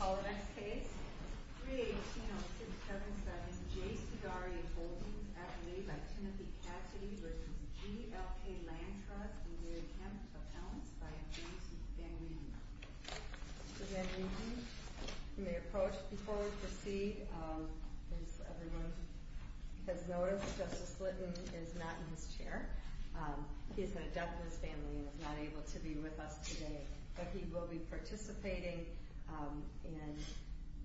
Call the next case. 318-0677, J. Cigarri Holdings, Acme, v. Timothy Cassidy v. GLK Land Trust, and their account appellants, by a plaintiff, Van Regen. Mr. Van Regen, you may approach before we proceed. As everyone has noticed, Justice Slytton is not in his chair. He's an adept in his family and is not able to be with us today. But he will be participating in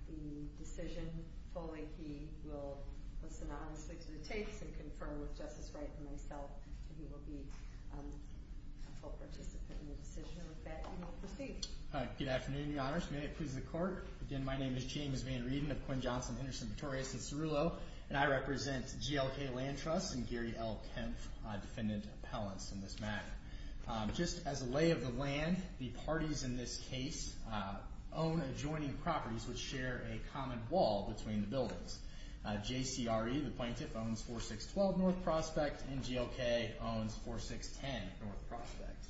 the decision fully. He will listen honestly to the tapes and confirm with Justice Slytton and myself. He will be a full participant in the decision. With that, you may proceed. Good afternoon, Your Honors. May it please the Court. Again, my name is James Van Regen of Quinn, Johnson, Henderson, Vittorius, and Cerullo. And I represent GLK Land Trust and Gary L. Kempf, defendant appellants in this matter. Just as a lay of the land, the parties in this case own adjoining properties which share a common wall between the buildings. J. C. R. E., the plaintiff, owns 4612 North Prospect, and GLK owns 4610 North Prospect.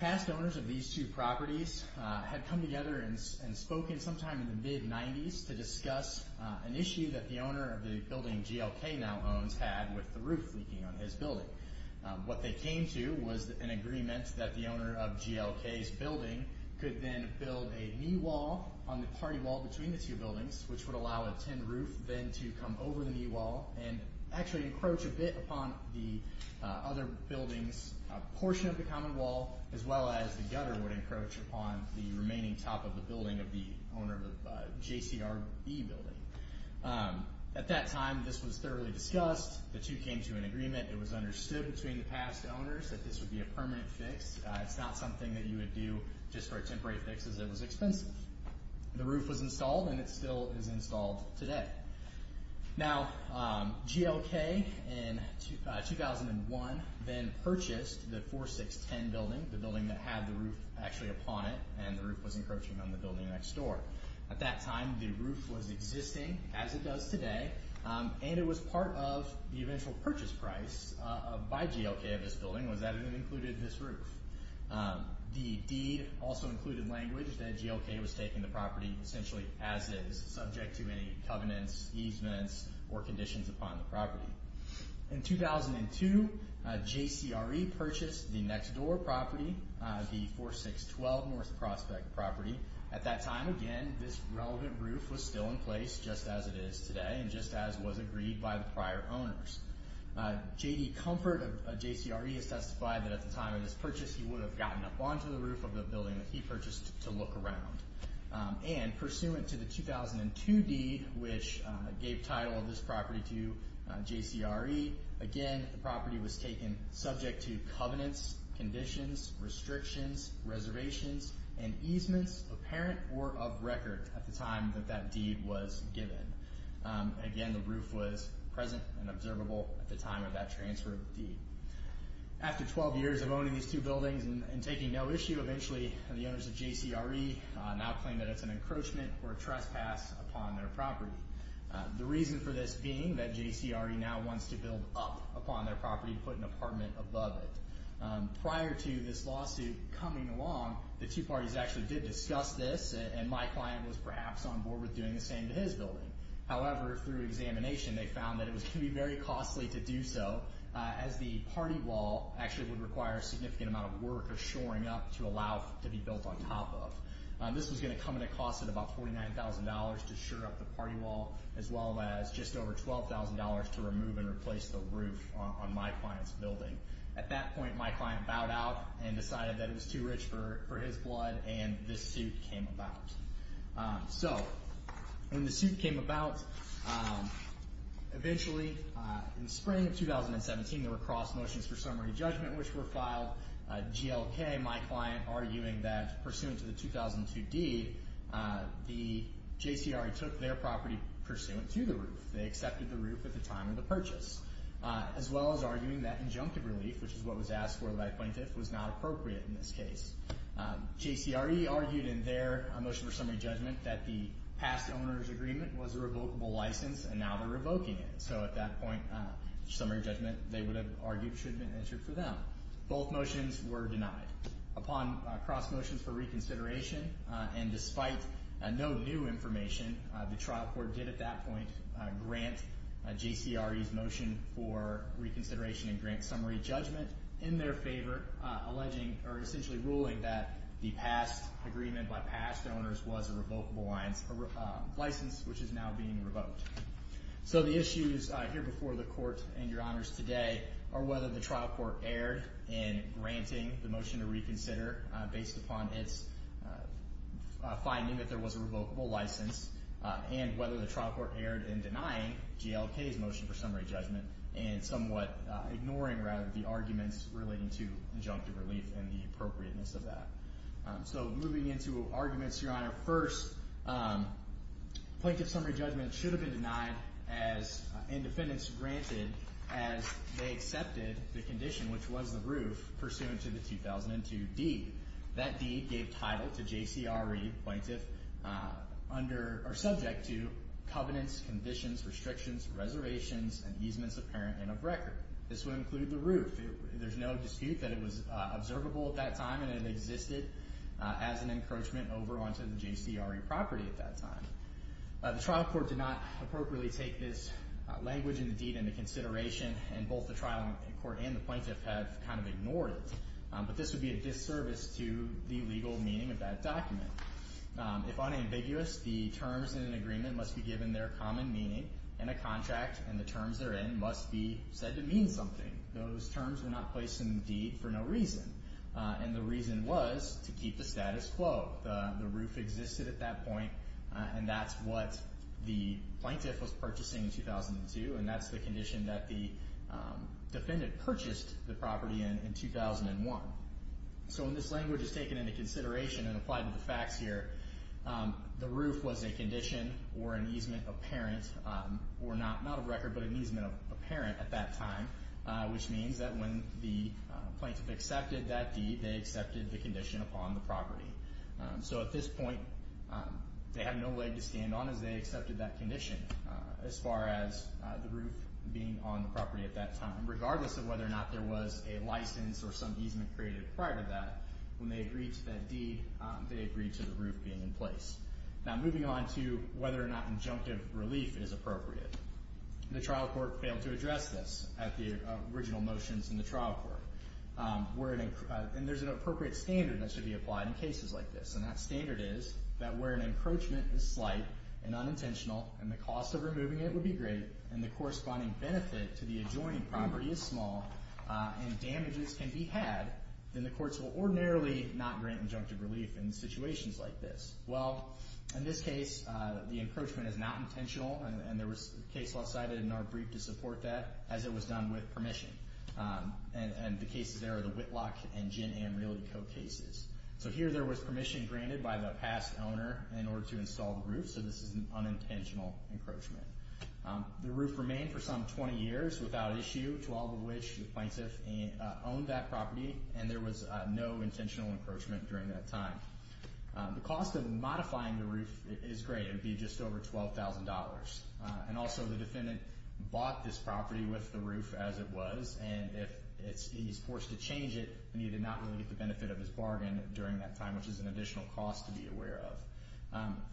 Past owners of these two properties had come together and spoken sometime in the mid-90s to discuss an issue that the owner of the building GLK now owns had with the roof leaking on his building. What they came to was an agreement that the owner of GLK's building could then build a knee wall on the party wall between the two buildings which would allow a tin roof then to come over the knee wall and actually encroach a bit upon the other building's portion of the common wall as well as the gutter would encroach upon the remaining top of the building of the owner of the J. C. R. E. building. At that time, this was thoroughly discussed. The two came to an agreement. It was understood between the past owners that this would be a permanent fix. It's not something that you would do just for a temporary fix as it was expensive. The roof was installed, and it still is installed today. Now, GLK in 2001 then purchased the 4610 building, the building that had the roof actually upon it, and the roof was encroaching on the building next door. At that time, the roof was existing as it does today, and it was part of the eventual purchase price by GLK of this building was that it included this roof. The deed also included language that GLK was taking the property essentially as is, subject to any covenants, easements, or conditions upon the property. In 2002, J. C. R. E. purchased the next door property, the 4612 North Prospect property. At that time, again, this relevant roof was still in place just as it is today, and just as was agreed by the prior owners. J. D. Comfort of J. C. R. E. has testified that at the time of this purchase, he would have gotten up onto the roof of the building that he purchased to look around. And pursuant to the 2002 deed, which gave title of this property to J. C. R. E., again, the property was taken subject to covenants, conditions, restrictions, and easements apparent or of record at the time that that deed was given. Again, the roof was present and observable at the time of that transfer of the deed. After 12 years of owning these two buildings and taking no issue, eventually the owners of J. C. R. E. now claim that it's an encroachment or a trespass upon their property. The reason for this being that J. C. R. E. now wants to build up upon their property and put an apartment above it. Prior to this lawsuit coming along, the two parties actually did discuss this, and my client was perhaps on board with doing the same to his building. However, through examination, they found that it was going to be very costly to do so as the party wall actually would require a significant amount of work of shoring up to allow it to be built on top of. This was going to come at a cost of about $49,000 to shore up the party wall as well as just over $12,000 to remove and replace the roof on my client's building. At that point, my client bowed out and decided that it was too rich for his blood, and this suit came about. When the suit came about, eventually in the spring of 2017, there were cross motions for summary judgment which were filed. GLK, my client, arguing that pursuant to the 2002 deed, the J. C. R. E. took their property pursuant to the roof. They accepted the roof at the time of the purchase, as well as arguing that injunctive relief, which is what was asked for by the plaintiff, was not appropriate in this case. J. C. R. E. argued in their motion for summary judgment that the past owner's agreement was a revocable license, and now they're revoking it. So at that point, summary judgment, they would have argued, should have been entered for them. Both motions were denied. Upon cross motions for reconsideration, and despite no new information, the trial court did at that point grant J. C. R. E.'s motion for reconsideration and grant summary judgment in their favor, alleging or essentially ruling that the past agreement by past owners was a revocable license, which is now being revoked. So the issues here before the court and your honors today are whether the trial court erred in granting the motion to reconsider based upon its finding that there was a revocable license, and whether the trial court erred in denying GLK's motion for summary judgment and somewhat ignoring, rather, the arguments relating to injunctive relief and the appropriateness of that. So moving into arguments, your honor, first, plaintiff's summary judgment should have been denied and defendants granted as they accepted the condition, which was the roof, pursuant to the 2002 deed. That deed gave title to J. C. R. E., plaintiff, subject to covenants, conditions, restrictions, reservations, and easements apparent and of record. This would include the roof. There's no dispute that it was observable at that time and it existed as an encroachment over onto the J. C. R. E. property at that time. The trial court did not appropriately take this language in the deed into consideration, and both the trial court and the plaintiff have kind of ignored it. But this would be a disservice to the legal meaning of that document. If unambiguous, the terms in an agreement must be given their common meaning, and a contract and the terms they're in must be said to mean something. Those terms were not placed in the deed for no reason, and the reason was to keep the status quo. The roof existed at that point, and that's what the plaintiff was purchasing in 2002, and that's the condition that the defendant purchased the property in in 2001. So when this language is taken into consideration and applied to the facts here, the roof was a condition or an easement apparent or not of record, but an easement apparent at that time, which means that when the plaintiff accepted that deed, they accepted the condition upon the property. So at this point, they had no leg to stand on as they accepted that condition. As far as the roof being on the property at that time, regardless of whether or not there was a license or some easement created prior to that, when they agreed to that deed, they agreed to the roof being in place. Now moving on to whether or not injunctive relief is appropriate. The trial court failed to address this at the original motions in the trial court. There's an appropriate standard that should be applied in cases like this, and that standard is that where an encroachment is slight and unintentional and the cost of removing it would be great and the corresponding benefit to the adjoining property is small and damages can be had, then the courts will ordinarily not grant injunctive relief in situations like this. Well, in this case, the encroachment is not intentional, and there was a case law cited in our brief to support that, as it was done with permission. And the cases there are the Whitlock and Gin Ann Realty Co. cases. So here there was permission granted by the past owner in order to install the roof, so this is an unintentional encroachment. The roof remained for some 20 years without issue, 12 of which the plaintiff owned that property, and there was no intentional encroachment during that time. The cost of modifying the roof is great. It would be just over $12,000. And also the defendant bought this property with the roof as it was, and if he's forced to change it, he did not really get the benefit of his bargain during that time, which is an additional cost to be aware of.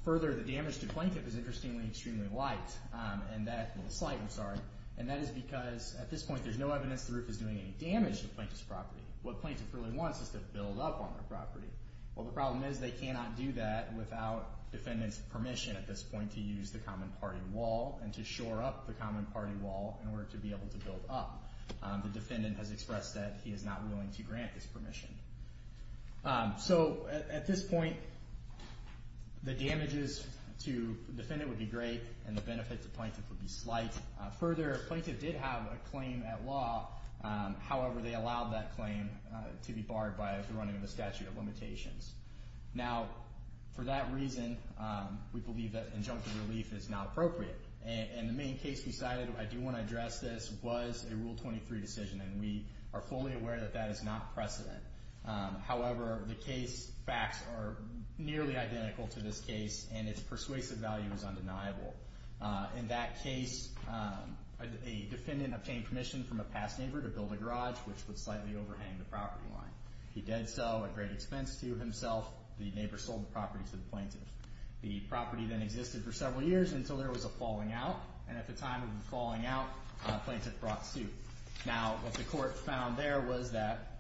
Further, the damage to plaintiff is interestingly extremely light, and that is because at this point there's no evidence the roof is doing any damage to plaintiff's property. What plaintiff really wants is to build up on their property. Well, the problem is they cannot do that without defendant's permission at this point to use the common party wall and to shore up the common party wall in order to be able to build up. The defendant has expressed that he is not willing to grant this permission. So at this point, the damages to defendant would be great, and the benefit to plaintiff would be slight. Further, plaintiff did have a claim at law. However, they allowed that claim to be barred by the running of the statute of limitations. Now, for that reason, we believe that injunctive relief is now appropriate. And the main case we cited, I do want to address this, was a Rule 23 decision, and we are fully aware that that is not precedent. However, the case facts are nearly identical to this case, and its persuasive value is undeniable. In that case, a defendant obtained permission from a past neighbor to build a garage, which would slightly overhang the property line. He did so at great expense to himself. The neighbor sold the property to the plaintiff. The property then existed for several years until there was a falling out, and at the time of the falling out, plaintiff brought suit. Now, what the court found there was that,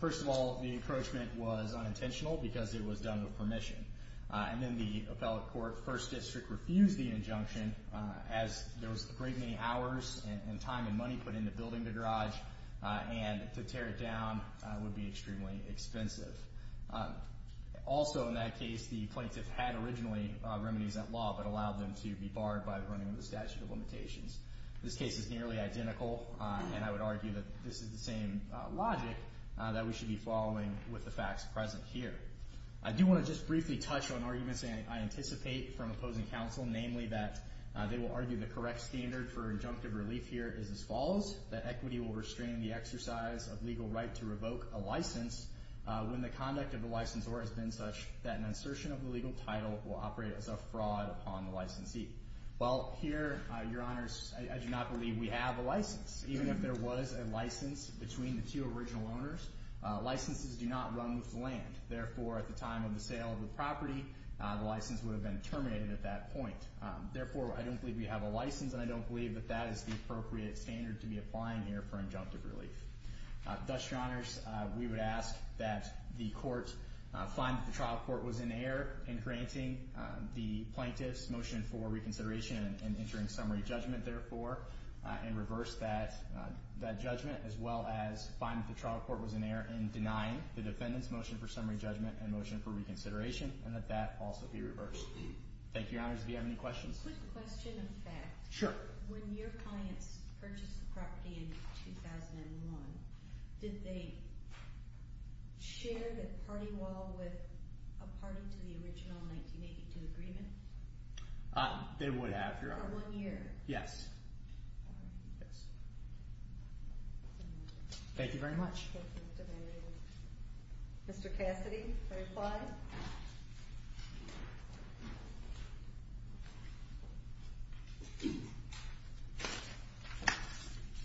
first of all, the encroachment was unintentional because it was done with permission. And then the appellate court, First District, refused the injunction as there was a great many hours and time and money put into building the garage, and to tear it down would be extremely expensive. Also in that case, the plaintiff had originally remedies at law but allowed them to be barred by the running of the statute of limitations. This case is nearly identical, and I would argue that this is the same logic that we should be following with the facts present here. I do want to just briefly touch on arguments I anticipate from opposing counsel, namely that they will argue the correct standard for injunctive relief here is as follows, that equity will restrain the exercise of legal right to revoke a license when the conduct of the licensor has been such that an insertion of the legal title will operate as a fraud upon the licensee. Well, here, Your Honors, I do not believe we have a license. Even if there was a license between the two original owners, licenses do not run with the land. Therefore, at the time of the sale of the property, the license would have been terminated at that point. Therefore, I don't believe we have a license, and I don't believe that that is the appropriate standard to be applying here for injunctive relief. Thus, Your Honors, we would ask that the court find that the trial court was in error in granting the plaintiff's motion for reconsideration and entering summary judgment, therefore, and reverse that judgment, as well as find that the trial court was in error in denying the defendant's motion for summary judgment and motion for reconsideration, and that that also be reversed. Thank you, Your Honors. Do you have any questions? Quick question of fact. Sure. When your clients purchased the property in 2001, did they share the party wall with a party to the original 1982 agreement? They would have, Your Honor. For one year? Yes. Thank you very much. Mr. Cassidy, for reply.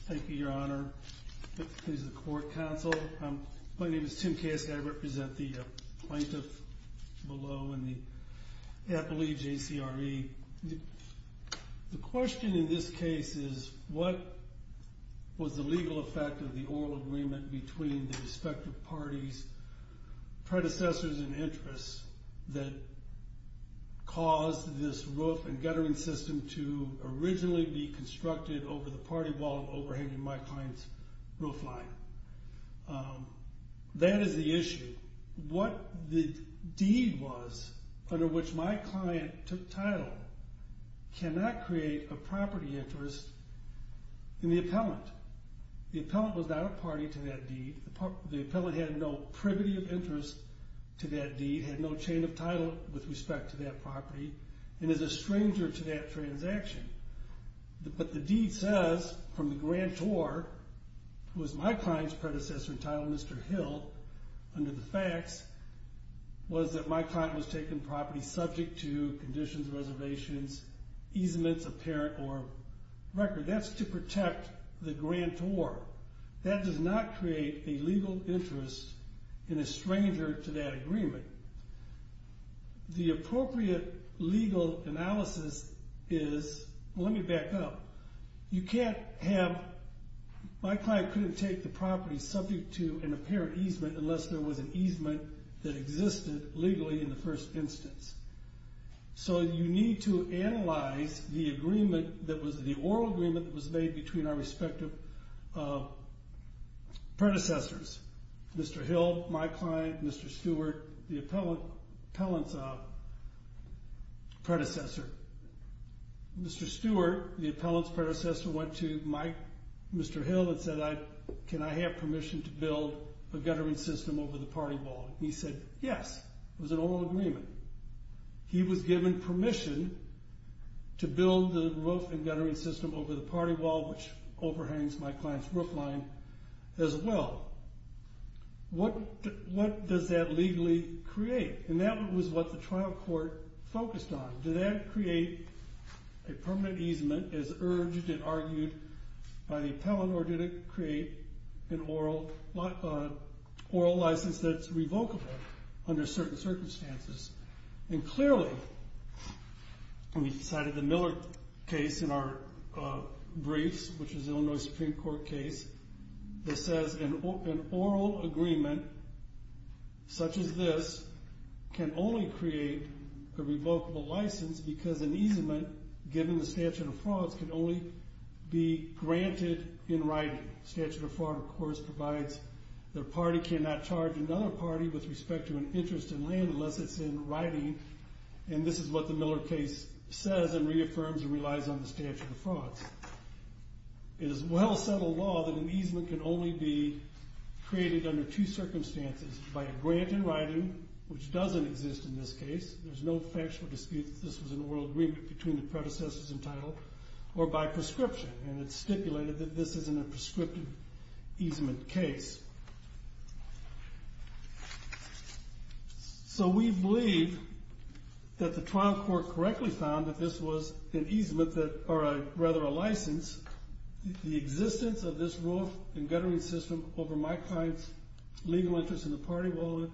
Thank you, Your Honor. This is the court counsel. My name is Tim Cassidy. I represent the plaintiff below in the Appalachian CRE. The question in this case is what was the legal effect of the oral agreement between the respective parties' predecessors and interests that caused this roof and guttering system to originally be constructed over the party wall overhanging my client's roof line. That is the issue. What the deed was under which my client took title cannot create a property interest in the appellant. The appellant was not a party to that deed. The appellant had no privity of interest to that deed, had no chain of title with respect to that property, and is a stranger to that transaction. But the deed says from the grantor, who was my client's predecessor in title, Mr. Hill, under the facts was that my client was taking property subject to conditions, reservations, easements of parent or record. That's to protect the grantor. That does not create a legal interest in a stranger to that agreement. The appropriate legal analysis is, well, let me back up. You can't have my client couldn't take the property subject to an apparent easement unless there was an easement that existed legally in the first instance. So you need to analyze the oral agreement that was made between our respective predecessors, Mr. Hill, my client, Mr. Stewart, the appellant's predecessor. Mr. Stewart, the appellant's predecessor, went to Mr. Hill and said, can I have permission to build a guttering system over the party wall? He said, yes. It was an oral agreement. He was given permission to build the roof and guttering system over the party wall, which overhangs my client's roof line as well. What does that legally create? And that was what the trial court focused on. Did that create a permanent easement as urged and argued by the appellant, or did it create an oral license that's revocable under certain circumstances? And clearly, we cited the Miller case in our briefs, which is an Illinois Supreme Court case, that says an oral agreement such as this can only create a revocable license because an easement given the statute of frauds can only be granted in writing. The statute of fraud, of course, provides that a party cannot charge another party with respect to an interest in land unless it's in writing, and this is what the Miller case says and reaffirms and relies on the statute of frauds. It is a well-settled law that an easement can only be created under two circumstances, by a grant in writing, which doesn't exist in this case. There's no factual dispute that this was an oral agreement between the predecessors entitled, or by prescription, and it's stipulated that this isn't a prescriptive easement case. So we believe that the trial court correctly found that this was an easement that, or rather a license, the existence of this roof and guttering system over my client's legal interest in the party will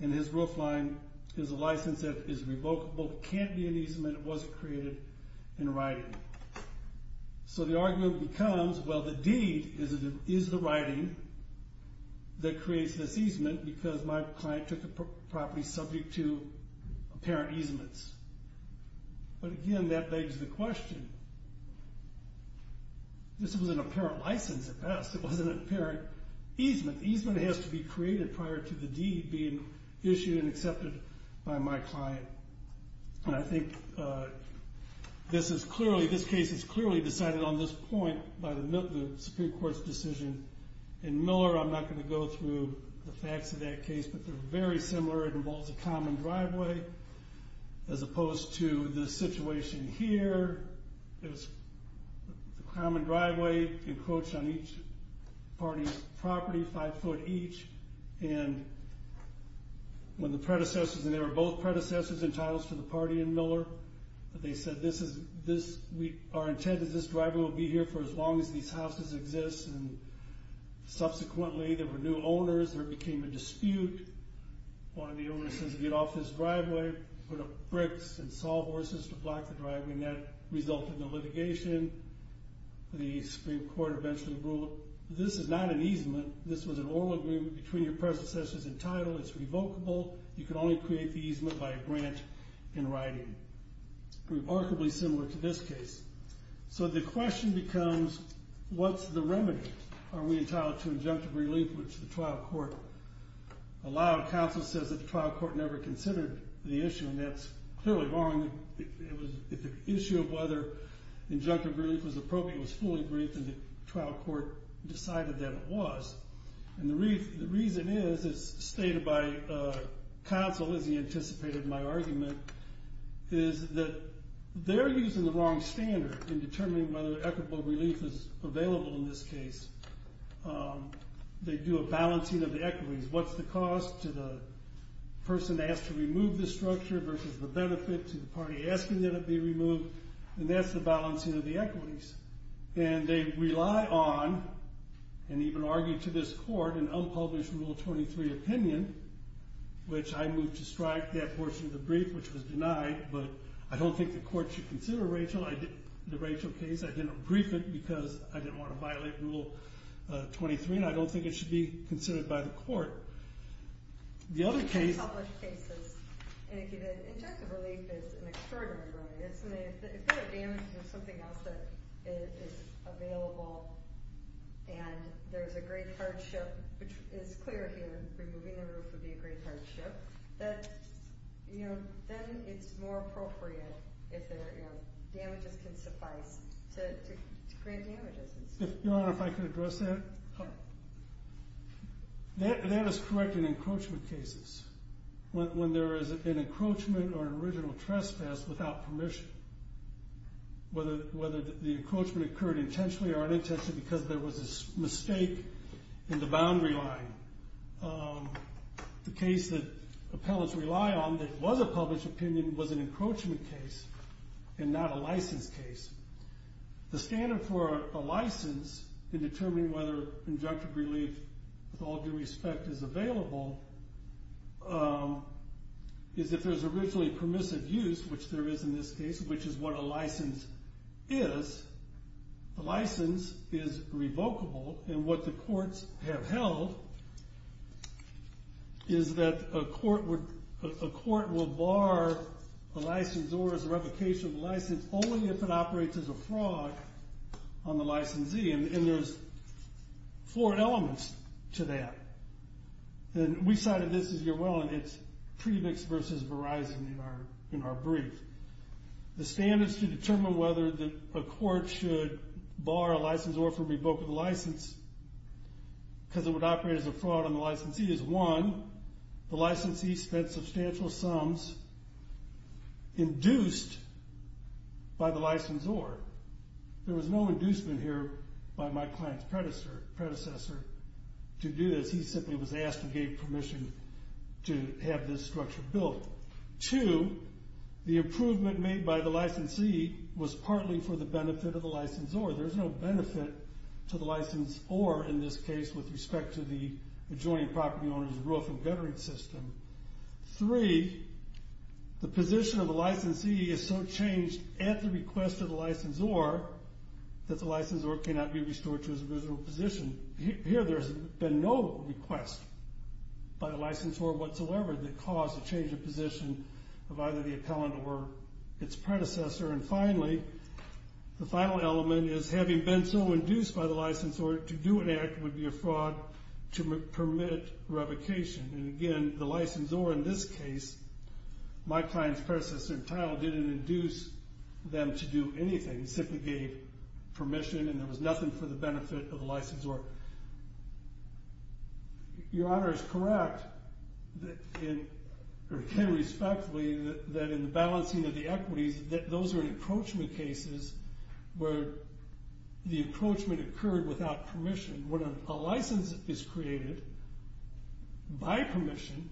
and his roof line is a license that is revocable. It can't be an easement. It wasn't created in writing. So the argument becomes, well, the deed is the writing that creates this easement because my client took the property subject to apparent easements. But again, that begs the question. This was an apparent license at best. It wasn't an apparent easement. The easement has to be created prior to the deed being issued and accepted by my client. And I think this case is clearly decided on this point by the Supreme Court's decision. In Miller, I'm not going to go through the facts of that case, but they're very similar. It involves a common driveway as opposed to the situation here. It was a common driveway encroached on each party's property, five foot each. And when the predecessors, and they were both predecessors and titles to the party in Miller, they said our intent is this driveway will be here for as long as these houses exist. And subsequently there were new owners. There became a dispute. One of the owners says get off this driveway, put up bricks and saw horses to block the driveway. And that resulted in litigation. The Supreme Court eventually ruled this is not an easement. This was an oral agreement between your predecessors and title. It's revocable. You can only create the easement by a grant in writing. Remarkably similar to this case. So the question becomes what's the remedy? Are we entitled to injunctive relief, which the trial court allowed? Counsel says that the trial court never considered the issue, and that's clearly wrong. If the issue of whether injunctive relief was appropriate was fully briefed, and the trial court decided that it was. And the reason is stated by counsel, as he anticipated my argument, is that they're using the wrong standard in determining whether equitable relief is available in this case. They do a balancing of the equities. What's the cost to the person asked to remove the structure versus the benefit to the party asking that it be removed? And that's the balancing of the equities. And they rely on, and even argued to this court, an unpublished Rule 23 opinion, which I moved to strike that portion of the brief, which was denied. But I don't think the court should consider Rachel, the Rachel case. I didn't brief it because I didn't want to violate Rule 23. And I don't think it should be considered by the court. The other case- Unpublished cases. And injunctive relief is an extraordinary remedy. If they're damaging something else that is available, and there's a great hardship, which is clear here, removing the roof would be a great hardship, then it's more appropriate if damages can suffice to grant damages. Your Honor, if I could address that. That is correct in encroachment cases, when there is an encroachment or an original trespass without permission, whether the encroachment occurred intentionally or unintentionally because there was a mistake in the boundary line. The case that appellants rely on that was a published opinion was an encroachment case and not a license case. The standard for a license in determining whether injunctive relief, with all due respect, is available, is if there's originally permissive use, which there is in this case, which is what a license is, the license is revocable. And what the courts have held is that a court would- operates as a fraud on the licensee, and there's four elements to that. And we cited this, if you're willing, it's Premix v. Verizon in our brief. The standards to determine whether a court should bar a licensor from revoking the license because it would operate as a fraud on the licensee is, one, the licensee spent substantial sums induced by the licensor. There was no inducement here by my client's predecessor to do this. He simply was asked and gave permission to have this structure built. Two, the improvement made by the licensee was partly for the benefit of the licensor. There's no benefit to the licensor in this case with respect to the adjoining property owner's roof and guttering system. Three, the position of the licensee is so changed at the request of the licensor that the licensor cannot be restored to his original position. Here there's been no request by the licensor whatsoever that caused the change of position of either the appellant or its predecessor. And finally, the final element is having been so induced by the licensor to do an act would be a fraud to permit revocation. And again, the licensor in this case, my client's predecessor in title, didn't induce them to do anything. He simply gave permission and there was nothing for the benefit of the licensor. Your Honor is correct, or can respectfully, that in the balancing of the equities, that those are encroachment cases where the encroachment occurred without permission. When a license is created by permission,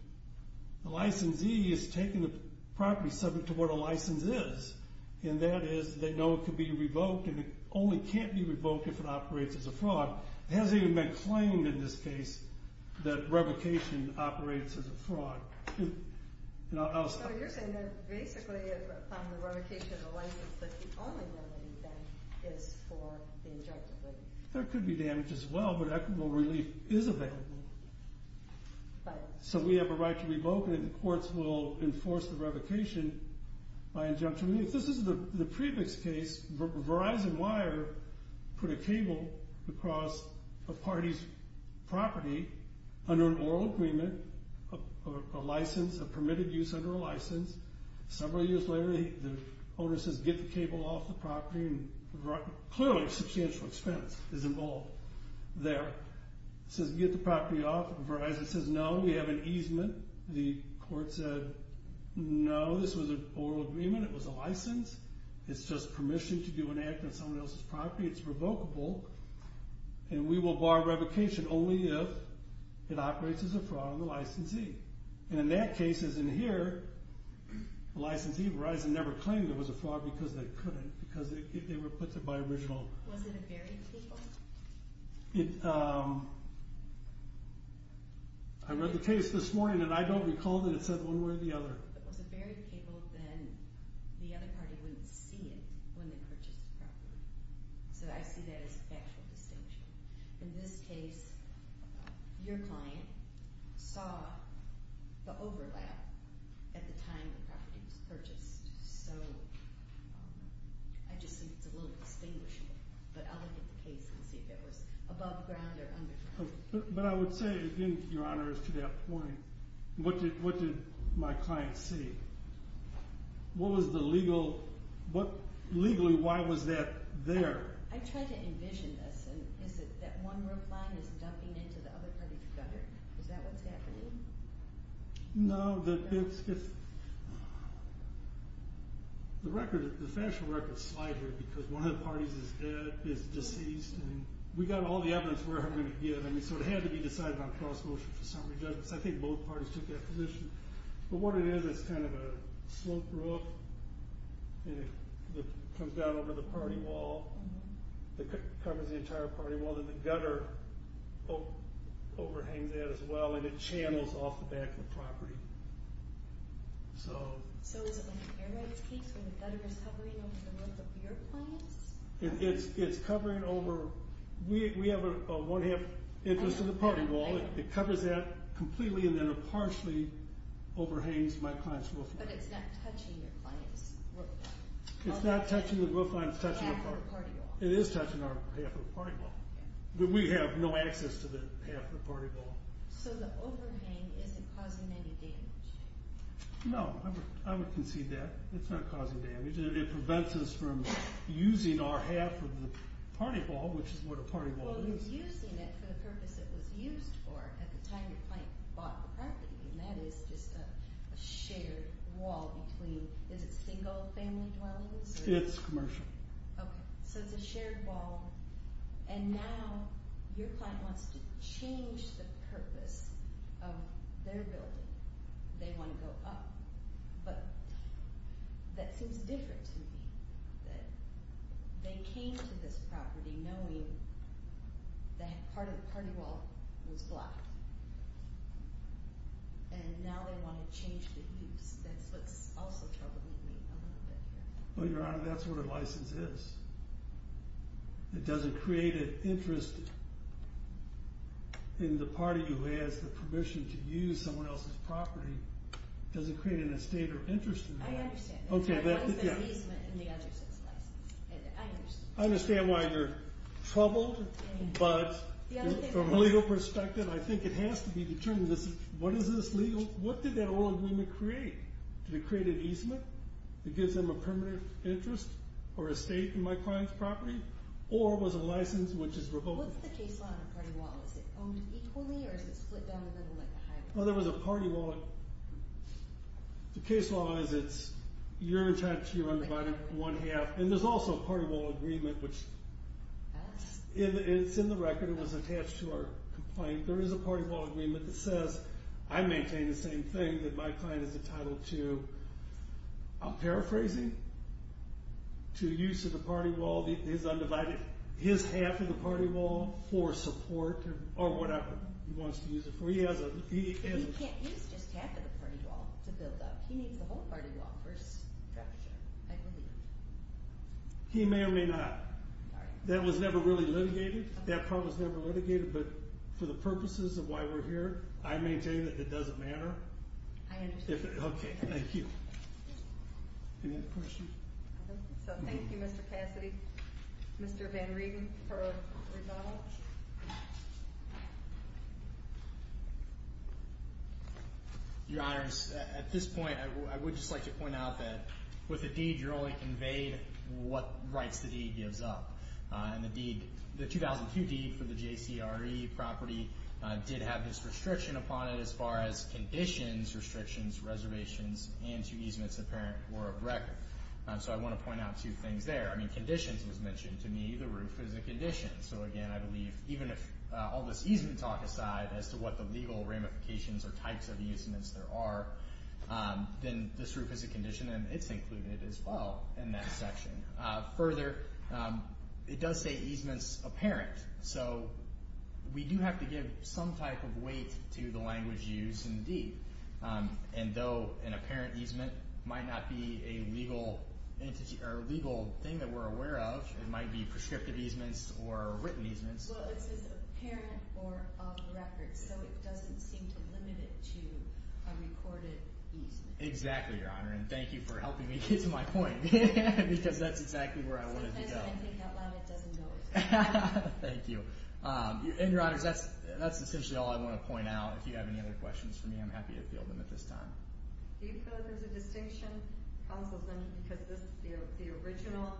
the licensee is taking the property subject to what a license is. And that is they know it can be revoked and it only can't be revoked if it operates as a fraud. It hasn't even been claimed in this case that revocation operates as a fraud. And I'll stop there. So you're saying that basically upon the revocation of the license that the only remedy then is for the injunctive relief. There could be damage as well, but equitable relief is available. So we have a right to revoke and the courts will enforce the revocation by injunction. If this is the previous case, Verizon Wire put a cable across a party's property under an oral agreement, a license, a permitted use under a license. Several years later, the owner says get the cable off the property. Clearly a substantial expense is involved there. He says get the property off. Verizon says no, we have an easement. The court said no, this was an oral agreement. It was a license. It's just permission to do an act on someone else's property. It's revocable and we will bar revocation only if it operates as a fraud on the licensee. And in that case, as in here, the licensee, Verizon never claimed it was a fraud because they couldn't. Because they were put there by original. Was it a buried cable? I read the case this morning and I don't recall that it said one way or the other. If it was a buried cable, then the other party wouldn't see it when they purchased the property. So I see that as a factual distinction. In this case, your client saw the overlap at the time the property was purchased. So I just think it's a little distinguishable. But I'll look at the case and see if it was above ground or under ground. But I would say, again, your Honor, as to that point, what did my client see? What was the legal – legally, why was that there? I tried to envision this. Is it that one reply is dumping into the other party's gutter? Is that what's happening? No, it's – the record, the factual record is slighted because one of the parties is dead, is deceased. And we got all the evidence we're ever going to get. So it had to be decided on cross-motion for summary judgment. So I think both parties took that position. But what it is, it's kind of a sloped roof. And it comes down over the party wall. It covers the entire party wall. Then the gutter overhangs that as well. And it channels off the back of the property. So – So is it like the Air Knights case where the gutter is covering over the roof of your clients? It's covering over – we have a one-half entrance to the party wall. It covers that completely and then it partially overhangs my client's roof. But it's not touching your client's roof line. It's not touching the roof line. It's touching the party wall. It is touching our half of the party wall. But we have no access to the half of the party wall. So the overhang isn't causing any damage? No. I would concede that. It's not causing damage. It prevents us from using our half of the party wall, which is what a party wall is. Well, you're using it for the purpose it was used for at the time your client bought the property. And that is just a shared wall between – is it single family dwellings? It's commercial. Okay. So it's a shared wall. And now your client wants to change the purpose of their building. They want to go up. But that seems different to me that they came to this property knowing that part of the party wall was blocked. And now they want to change the use. That's what's also troubling me a little bit here. Well, Your Honor, that's what a license is. It doesn't create an interest in the party who has the permission to use someone else's property. It doesn't create an estate or interest in that. I understand. One is an easement and the other is a license. I understand why you're troubled. But from a legal perspective, I think it has to be determined. What is this legal – what did that oil agreement create? Did it create an easement that gives them a permanent interest or estate in my client's property? Or was a license which is revoked? What's the case law on a party wall? Is it owned equally or is it split down the middle like a highway? Well, there was a party wall. The case law is it's you're attached, you're undivided, one half. And there's also a party wall agreement, which is in the record. It was attached to our complaint. There is a party wall agreement that says I maintain the same thing that my client is entitled to. I'm paraphrasing. To use the party wall, his undivided, his half of the party wall for support or whatever he wants to use it for. He has a – But he can't use just half of the party wall to build up. He needs the whole party wall for structure, I believe. He may or may not. That was never really litigated. That part was never litigated. But for the purposes of why we're here, I maintain that it doesn't matter. I understand. Okay. Thank you. Any other questions? So thank you, Mr. Cassidy. Mr. Van Riegen for a rebuttal. Your Honors, at this point I would just like to point out that with a deed you're only conveyed what rights the deed gives up. And the 2002 deed for the JCRE property did have this restriction upon it as far as conditions, restrictions, reservations, and two easements apparent were of record. So I want to point out two things there. Conditions was mentioned to me. The roof is a condition. So, again, I believe even if all this easement talk aside as to what the legal ramifications or types of easements there are, then this roof is a condition, and it's included as well in that section. Further, it does say easements apparent. So we do have to give some type of weight to the language used in the deed. And though an apparent easement might not be a legal thing that we're aware of, it might be prescriptive easements or written easements. Well, it says apparent or of record. So it doesn't seem to limit it to a recorded easement. Exactly, Your Honor. And thank you for helping me get to my point because that's exactly where I wanted to go. Sometimes when I take that line, it doesn't go as far. Thank you. And, Your Honor, that's essentially all I want to point out. If you have any other questions for me, I'm happy to field them at this time. Do you feel there's a distinction? It comes with them because the original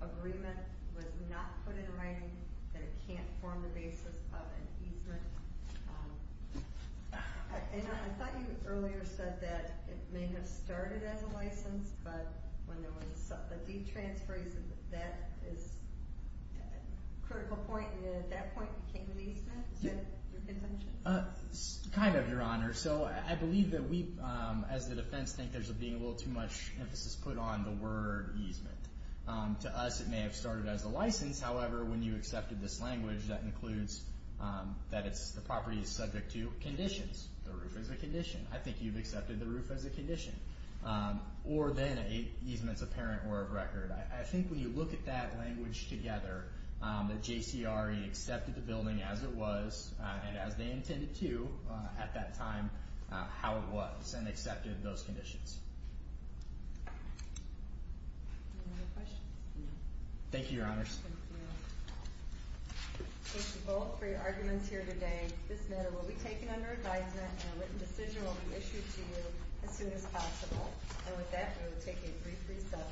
agreement was not put in writing that it can't form the basis of an easement. And I thought you earlier said that it may have started as a license, but when there was a deed transfer, that is a critical point, and at that point it became an easement. Is that your contention? Kind of, Your Honor. So I believe that we, as the defense, think there's being a little too much emphasis put on the word easement. To us, it may have started as a license. However, when you accepted this language, that includes that the property is subject to conditions. The roof is a condition. I think you've accepted the roof as a condition. Or then an easement's a parent or a record. I think when you look at that language together, that JCRE accepted the building as it was and as they intended to at that time, how it was, and accepted those conditions. Any other questions? Thank you, Your Honors. Thank you both for your arguments here today. This matter will be taken under advisement and a written decision will be issued to you as soon as possible. And with that, we will take a brief recess.